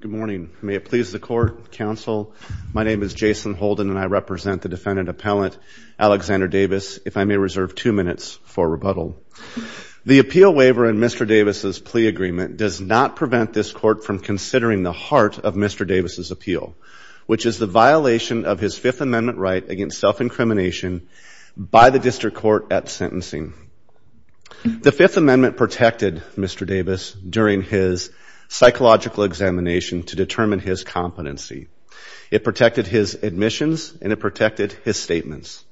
good morning may it please the court counsel my name is Jason Holden and I represent the defendant appellant Alexander Davis if I may reserve two minutes for rebuttal the appeal waiver and mr. Davis's plea agreement does not prevent this court from considering the heart of mr. Davis's appeal which is the violation of his Fifth Amendment right against self-incrimination by the district court at sentencing the Fifth Amendment protected mr. Davis during his psychological examination to determine his competency it protected his admissions and it protected his statements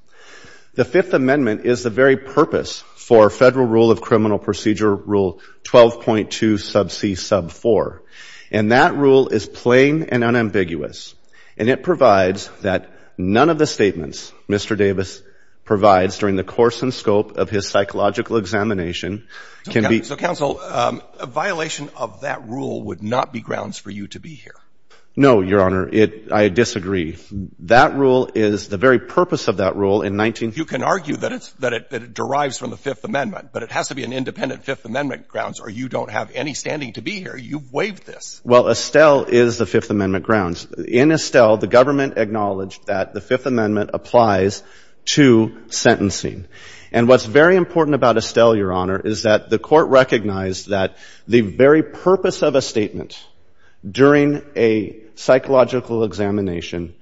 the Fifth Amendment is the very purpose for federal rule of criminal procedure rule 12.2 sub c sub 4 and that rule is plain and unambiguous and it provides that none of the statements mr. Davis provides during the course and scope of his psychological examination can be counsel a violation of that rule would not be grounds for you to be here no your honor it I disagree that rule is the very purpose of that rule in 19 you can argue that it's that it derives from the Fifth Amendment but it has to be an independent Fifth Amendment grounds or you don't have any standing to be here you've waived this well Estelle is the Fifth Amendment grounds in Estelle the government acknowledged that the Fifth important about Estelle your honor is that the court recognized that the very purpose of a statement during a psychological examination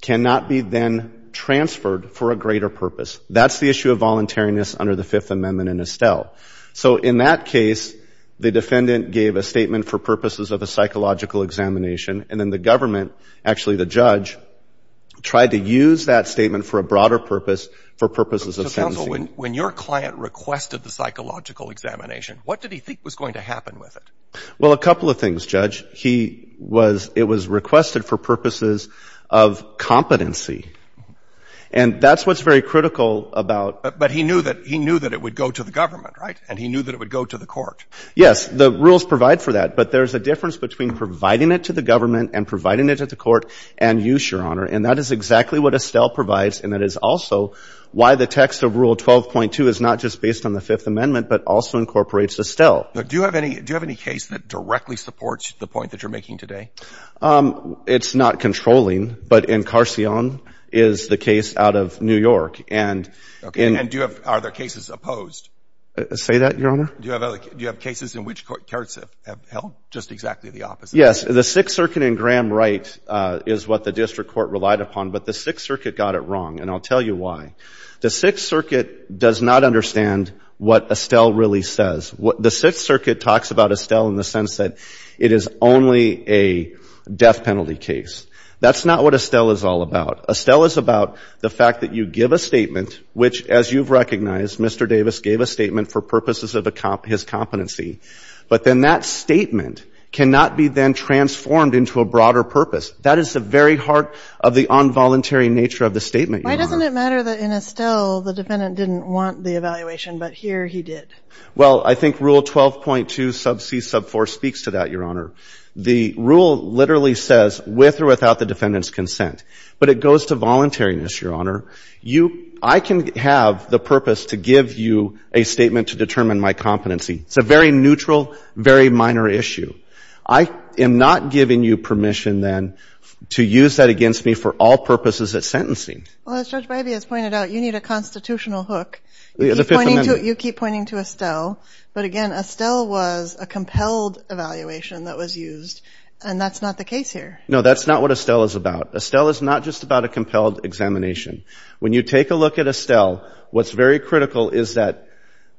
cannot be then transferred for a greater purpose that's the issue of voluntariness under the Fifth Amendment in Estelle so in that case the defendant gave a statement for purposes of a psychological examination and then the government actually the judge tried to use that statement for a broader purpose for purposes of counsel when your client requested the psychological examination what did he think was going to happen with it well a couple of things judge he was it was requested for purposes of competency and that's what's very critical about but he knew that he knew that it would go to the government right and he knew that it would go to the court yes the rules provide for that but there's a difference between providing it to the government and providing it at the court and use your honor and that is exactly what Estelle provides and that is also why the text of rule 12.2 is not just based on the Fifth Amendment but also incorporates Estelle do you have any do you have any case that directly supports the point that you're making today it's not controlling but in Carsion is the case out of New York and okay and do you have other cases opposed say that your honor do you have other do you have cases in which courts have held just exactly the opposite yes the Sixth Circuit in Graham Wright is what the district court relied upon but the Sixth Circuit got it wrong and I'll tell you why the Sixth Circuit does not understand what Estelle really says what the Sixth Circuit talks about Estelle in the sense that it is only a death penalty case that's not what Estelle is all about Estelle is about the fact that you give a statement which as you've recognized mr. Davis gave a statement for purposes of a cop his competency but then that statement cannot be then transformed into a broader purpose that is the very heart of the involuntary nature of the statement why doesn't it matter that in Estelle the defendant didn't want the evaluation but here he did well I think rule 12.2 sub c sub 4 speaks to that your honor the rule literally says with or without the defendant's consent but it goes to voluntariness your honor you I can have the purpose to give you a statement to determine my competency it's a very neutral very minor issue I am NOT giving you permission then to use that against me for all purposes at sentencing you need a constitutional hook you keep pointing to Estelle but again Estelle was a compelled evaluation that was used and that's not the case here no that's not what Estelle is about Estelle is not just about a compelled examination when you take a look at Estelle what's very critical is that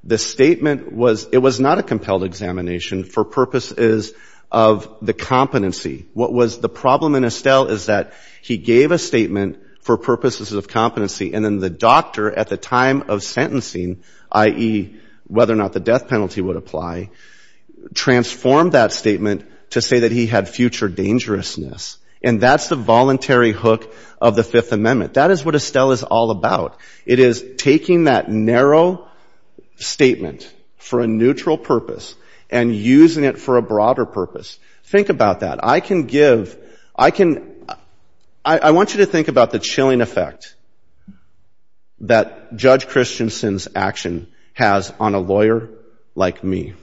the statement was it was not a compelled examination for purposes of the competency what was the problem in Estelle is that he gave a statement for purposes of competency and then the doctor at the time of sentencing ie whether or not the death penalty would apply transformed that statement to say that he had future dangerousness and that's the voluntary hook of the Fifth Amendment that is what Estelle is all about it is taking that narrow statement for a neutral purpose and using it for a broader purpose think about that I can give I can I want you to think about the chilling effect that Judge Christensen's action has on a lawyer like me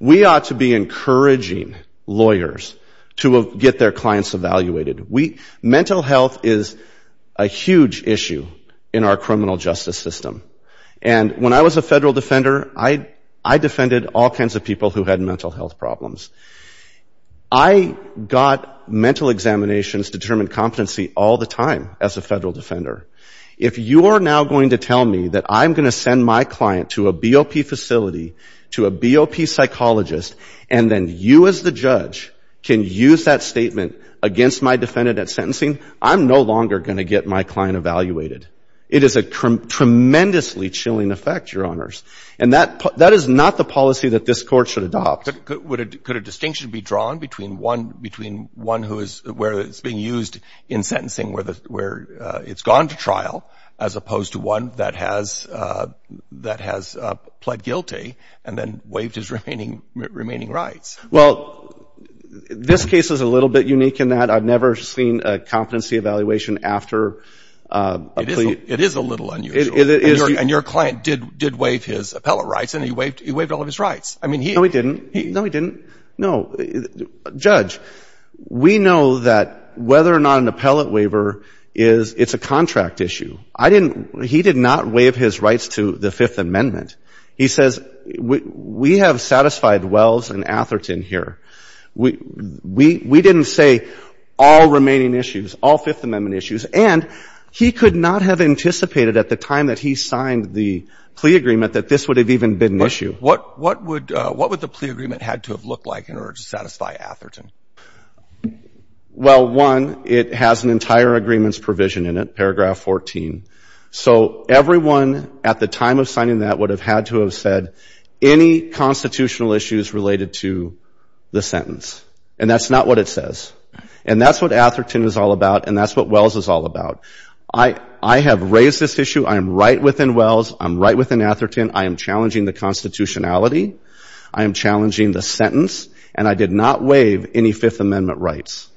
we ought to be encouraging lawyers to get their clients evaluated we mental health is a huge issue in our criminal justice system and when I was a federal defender I I defended all kinds of people who had mental health problems I got mental examinations determined competency all the time as a federal defender if you are now going to tell me that I'm going to send my client to a BOP facility to a BOP psychologist and then you as the judge can use that statement against my sentencing I'm no longer going to get my client evaluated it is a tremendously chilling effect your honors and that that is not the policy that this court should adopt would it could a distinction be drawn between one between one who is where it's being used in sentencing where the where it's gone to trial as opposed to one that has that has pled guilty and then waived his remaining remaining rights well this case is a little bit unique in that I've seen a competency evaluation after it is a little unusual and your client did did waive his appellate rights and he waived he waived all of his rights I mean he no he didn't he no he didn't no judge we know that whether or not an appellate waiver is it's a contract issue I didn't he did not waive his rights to the Fifth Amendment he says we have satisfied Wells and Atherton here we we we didn't say all remaining issues all Fifth Amendment issues and he could not have anticipated at the time that he signed the plea agreement that this would have even been an issue what what would what would the plea agreement had to have looked like in order to satisfy Atherton well one it has an entire agreements provision in it paragraph 14 so everyone at the time of signing that would have had to have said any constitutional issues related to the sentence and that's not what it says and that's what Atherton is all about and that's what Wells is all about I I have raised this issue I am right within Wells I'm right within Atherton I am challenging the constitutionality I am challenging the sentence and I did not waive any Fifth Amendment rights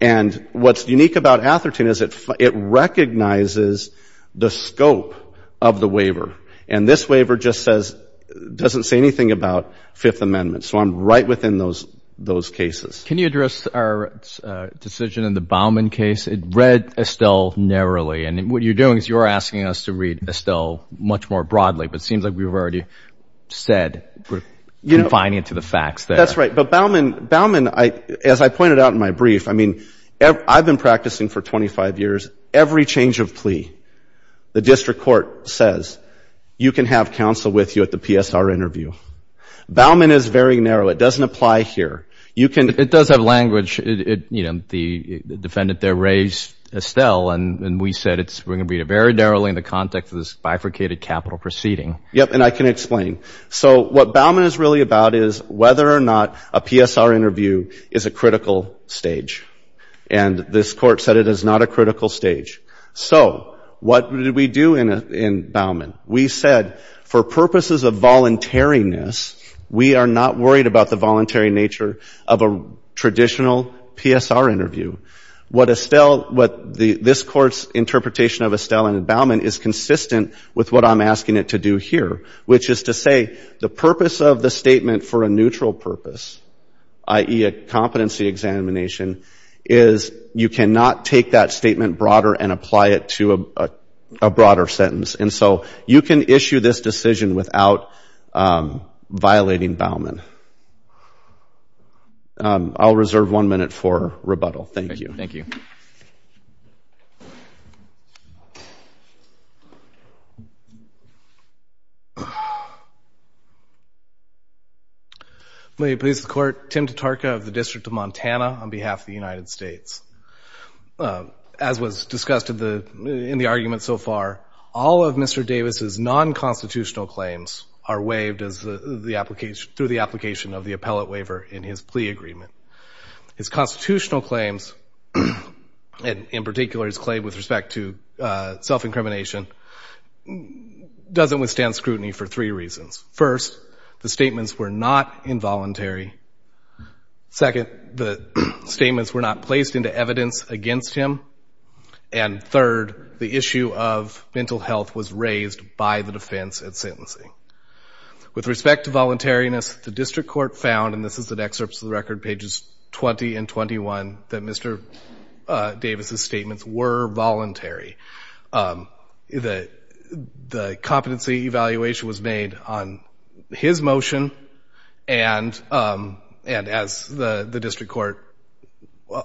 and what's unique about Atherton is it it recognizes the scope of the waiver and this waiver just says doesn't say anything about Fifth Amendment so I'm right within those those cases can you address our decision in the Bauman case it read Estelle narrowly and what you're doing is you're asking us to read Estelle much more broadly but seems like we've already said you know finding it to the facts that's right but Bauman Bauman I as I pointed out in my brief I mean I've been practicing for 25 years every change of plea the district court you can have counsel with you at the PSR interview Bauman is very narrow it doesn't apply here you can it does have language it you know the defendant there raised Estelle and we said it's we're gonna be a very narrowly in the context of this bifurcated capital proceeding yep and I can explain so what Bauman is really about is whether or not a PSR interview is a critical stage and this court said it is not a critical stage so what did we do in a in Bauman we said for purposes of voluntariness we are not worried about the voluntary nature of a traditional PSR interview what Estelle what the this courts interpretation of Estelle and Bauman is consistent with what I'm asking it to do here which is to say the purpose of the statement for a neutral purpose ie a is you cannot take that statement broader and apply it to a broader sentence and so you can issue this decision without violating Bauman I'll reserve one minute for rebuttal thank you thank you please the court Tim to Tarka of the District of Montana on behalf of the state's as was discussed in the in the argument so far all of mr. Davis's non-constitutional claims are waived as the application through the application of the appellate waiver in his plea agreement his constitutional claims and in particular his claim with respect to self-incrimination doesn't withstand scrutiny for three reasons first the statements were not involuntary second the statements were not placed into evidence against him and third the issue of mental health was raised by the defense at sentencing with respect to voluntariness the district court found and this is an excerpts of the record pages 20 and 21 that mr. Davis's statements were voluntary that the competency evaluation was made on his motion and and as the the district court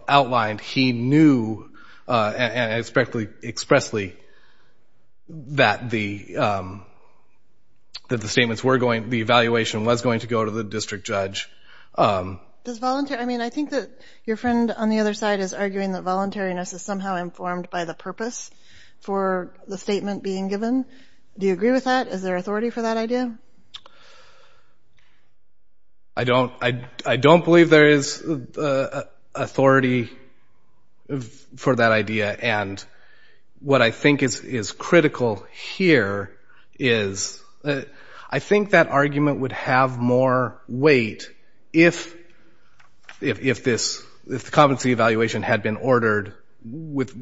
outlined he knew and expect Lee expressly that the that the statements were going the evaluation was going to go to the district judge I mean I think that your friend on the other side is arguing that voluntariness is somehow informed by the purpose for the statement being given do you agree with that is there authority for that idea I don't I don't believe there is authority for that idea and what I think is is critical here is that I think that argument would have more weight if if this if the competency evaluation had been ordered with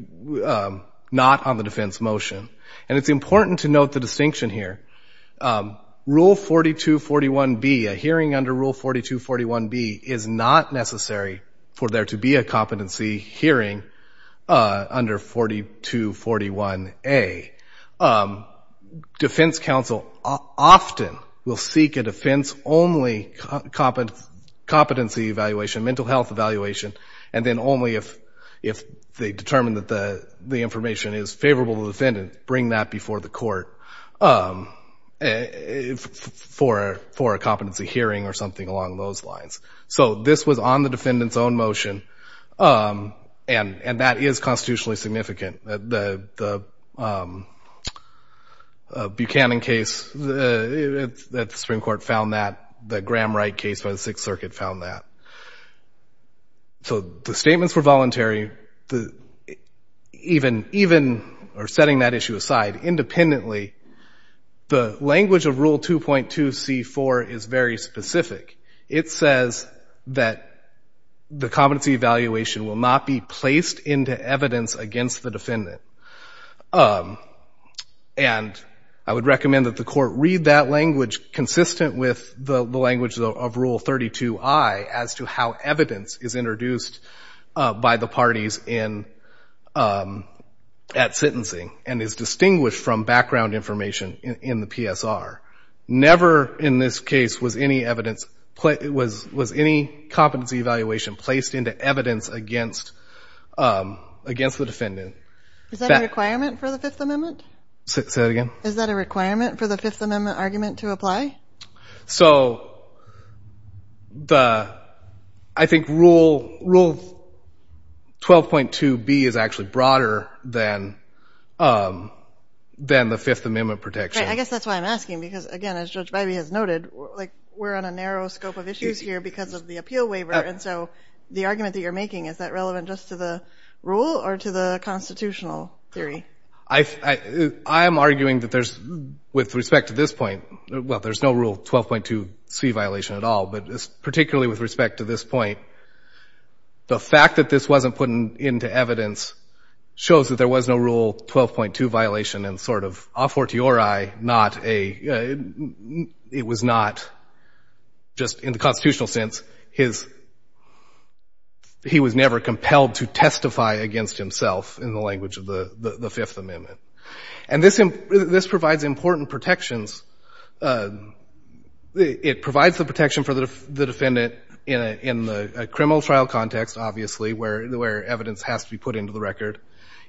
not on the defense motion and it's important to note the distinction here rule 4241 be a hearing under rule 4241 B is not necessary for there to be a competency hearing under 4241 a defense counsel often will seek a defense only competent competency evaluation mental health evaluation and then only if if they determine that the the information is favorable defendant bring that before the court for for a competency hearing or something along those lines so this was on the defendants own motion and and that is constitutionally significant the Buchanan case the Supreme Court found that the Graham Wright case by the Sixth Circuit found that so the statements were voluntary the even even or setting that issue aside independently the language of rule 2.2 c4 is very specific it says that the competency evaluation will not be placed into evidence against the defendant and I would recommend that the court read that language consistent with the language of rule 32 I as to how evidence is introduced by the parties in at sentencing and is distinguished from background information in the PSR never in this case was any evidence but it was was any competency evaluation placed into evidence against against the defendant requirement for the Fifth Amendment so again is that a requirement for the Fifth Amendment argument to apply so the I think rule rule 12.2 B is actually broader than then the Fifth Amendment protection I guess that's why I'm asking because again as judge baby has noted like we're on a narrow scope of issues here because of the appeal waiver and so the argument that you're making is that relevant just to the rule or to the constitutional theory I I am arguing that there's with respect to this point well there's no rule 12.2 C violation at all but this particularly with respect to this point the fact that this wasn't put into evidence shows that there was no rule 12.2 violation and sort of off or to your I not a it was not just in the constitutional sense his he was never compelled to testify against himself in the language of the the Fifth Amendment and this in this provides important protections it provides the protection for the defendant in a in the criminal trial context obviously where the where evidence has to be put into the record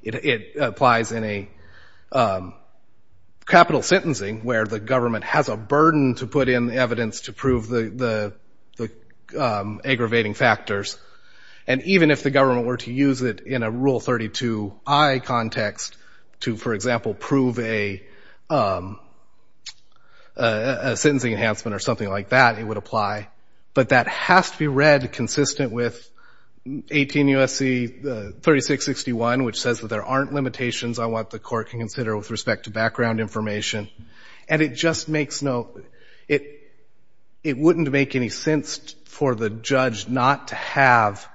it applies in a capital sentencing where the government has a burden to put in the evidence to prove the aggravating factors and even if the government were to use it in a rule 32 I context to for example prove a sentencing enhancement or something like that it would apply but that has to be read consistent with 18 USC 36 61 which says that there aren't limitations I want the court can consider with respect to background information and it just makes no it it wouldn't make any sense for the judge not to have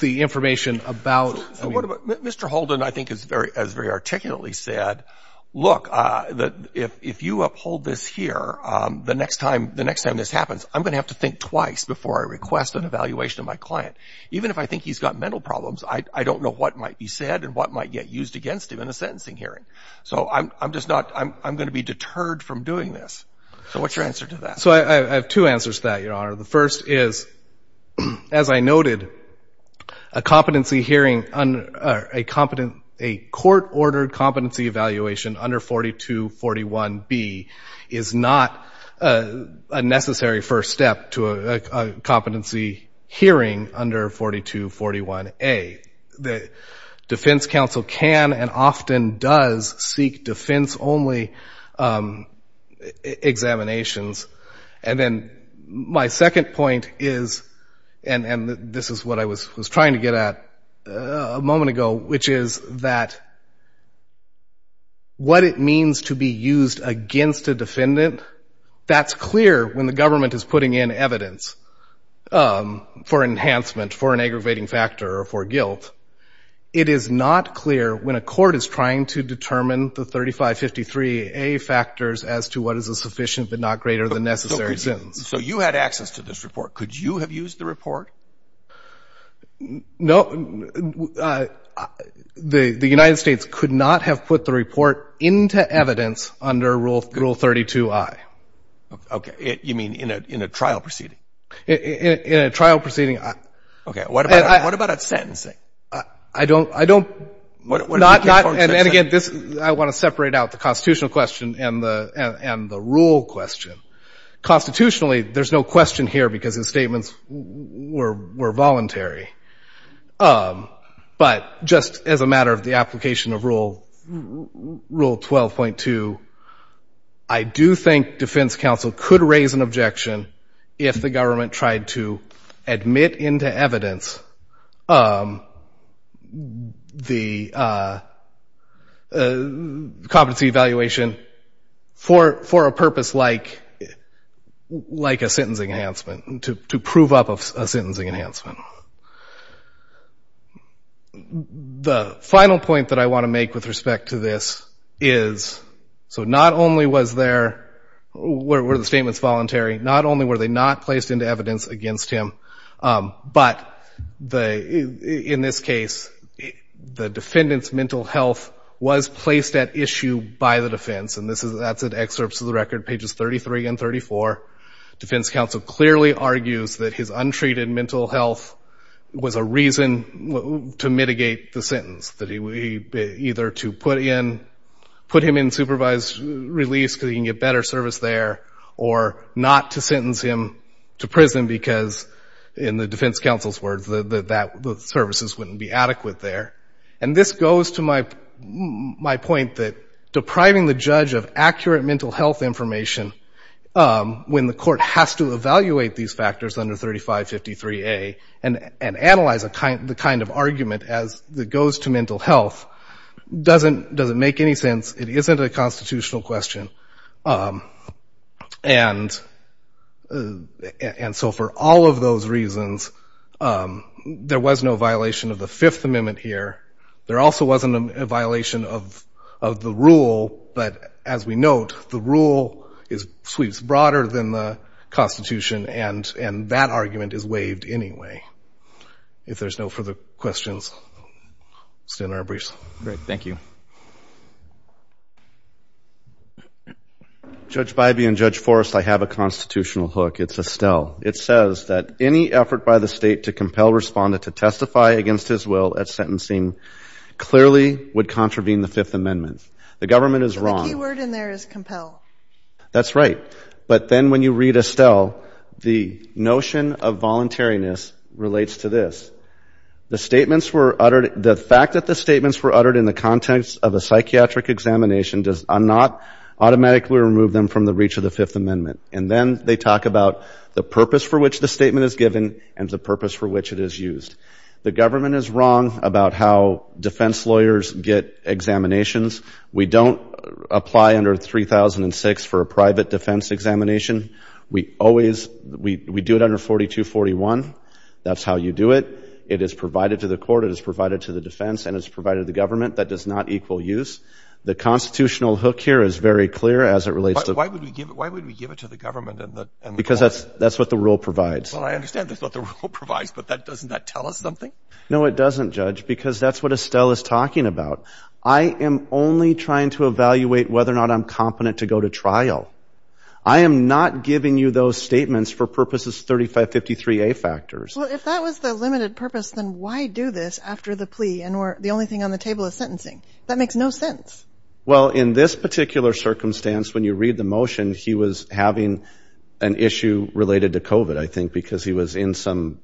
the information about mr. Holden I think is very as very articulately said look that if you uphold this here the next time the next time this happens I'm gonna have to think twice before I request an evaluation of my client even if I think he's got mental problems I don't know what might be said and what might get used against him in a sentencing hearing so I'm just not I'm gonna be deterred from doing this so what's your answer to that so I have two answers that your honor the first is as I noted a competency hearing on a competent a court-ordered competency evaluation under 4241 B is not a necessary first step to a competency hearing under 4241 a the defense counsel can and often does seek defense only examinations and then my second point is and and this is what I was trying to get at a moment ago which is that what it means to be used against a defendant that's clear when the government is putting in evidence for enhancement for an aggravating factor or for guilt it is not clear when a court is trying to determine the 3553 a factors as to what is a sufficient but not greater than necessary sentence so you had access to this report could you have used the report no the the United States could not have put the report into evidence under rule rule 32 I okay you mean in a trial proceeding in a trial proceeding okay what about what about a sentence I don't I don't what not not and then again this I want to separate out the constitutional question and the and the rule question constitutionally there's no question here because the statements were voluntary but just as a matter of the application of rule rule 12.2 I do think defense counsel could raise an objection if the government tried to admit into evidence the competency evaluation for for a purpose like like a sentencing enhancement to prove up of a sentencing enhancement the final point that I want to make with respect to this is so not only was there where the statements voluntary not only were they not placed into evidence against him but the in this case the defendants mental health was placed at issue by the defense and this is that's an excerpt to the record pages 33 and 34 defense counsel clearly argues that his untreated mental health was a reason to mitigate the sentence that he either to put in put him in supervised release because he can get better service there or not to sentence him to prison because in the defense counsel's words that the services wouldn't be adequate there and this goes to my my point that depriving the judge of accurate mental health information when the court has to evaluate these factors under 3553 a and and analyze a the kind of argument as that goes to mental health doesn't doesn't make any sense it isn't a constitutional question and and so for all of those reasons there was no violation of the Fifth Amendment here there also wasn't a violation of the rule but as we note the rule is sweeps broader than the Constitution and and that argument is waived anyway if there's no further questions still in our briefs great thank you judge by being judge Forrest I have a constitutional hook it's Estelle it says that any effort by the state to compel respondent to testify against his will at sentencing clearly would contravene the Fifth Amendment the government is compel that's right but then when you read Estelle the notion of voluntariness relates to this the statements were uttered the fact that the statements were uttered in the context of a psychiatric examination does not automatically remove them from the reach of the Fifth Amendment and then they talk about the purpose for which the statement is given and the purpose for which it is used the government is wrong about how defense lawyers get examinations we don't apply under 3006 for a private defense examination we always we do it under 4241 that's how you do it it is provided to the court it is provided to the defense and it's provided the government that does not equal use the constitutional hook here is very clear as it relates to why would we give it why would we give it to the government because that's that's what the rule provides I understand this what the rule provides but that doesn't that tell us something no it doesn't judge because that's what Estelle is talking about I am only trying to evaluate whether or not I'm competent to go to trial I am NOT giving you those statements for purposes 3553 a factors well if that was the limited purpose then why do this after the plea and or the only thing on the table of sentencing that makes no sense well in this particular circumstance when you read the motion he was having an issue related to kovat I think because he was in some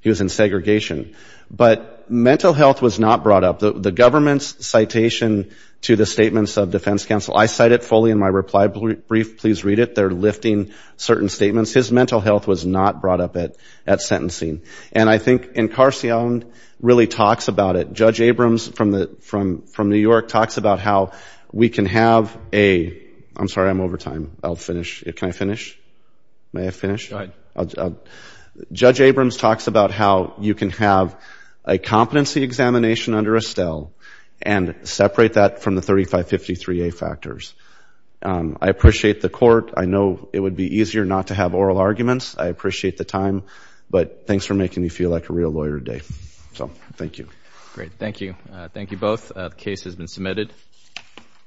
he was in segregation but mental health was not brought up the government's citation to the statements of defense counsel I cite it fully in my reply brief please read it they're lifting certain statements his mental health was not brought up it at sentencing and I think in car C Allen really talks about it judge Abrams from the from from New York talks about how we can have a I'm sorry I'm over time I'll finish it can I finish may I finish judge Abrams talks about how you can have a competency examination under Estelle and separate that from the 3553 a factors I appreciate the court I know it would be easier not to have oral arguments I appreciate the time but thanks for making me feel like a real lawyer day so thank you great thank you thank you both case has been submitted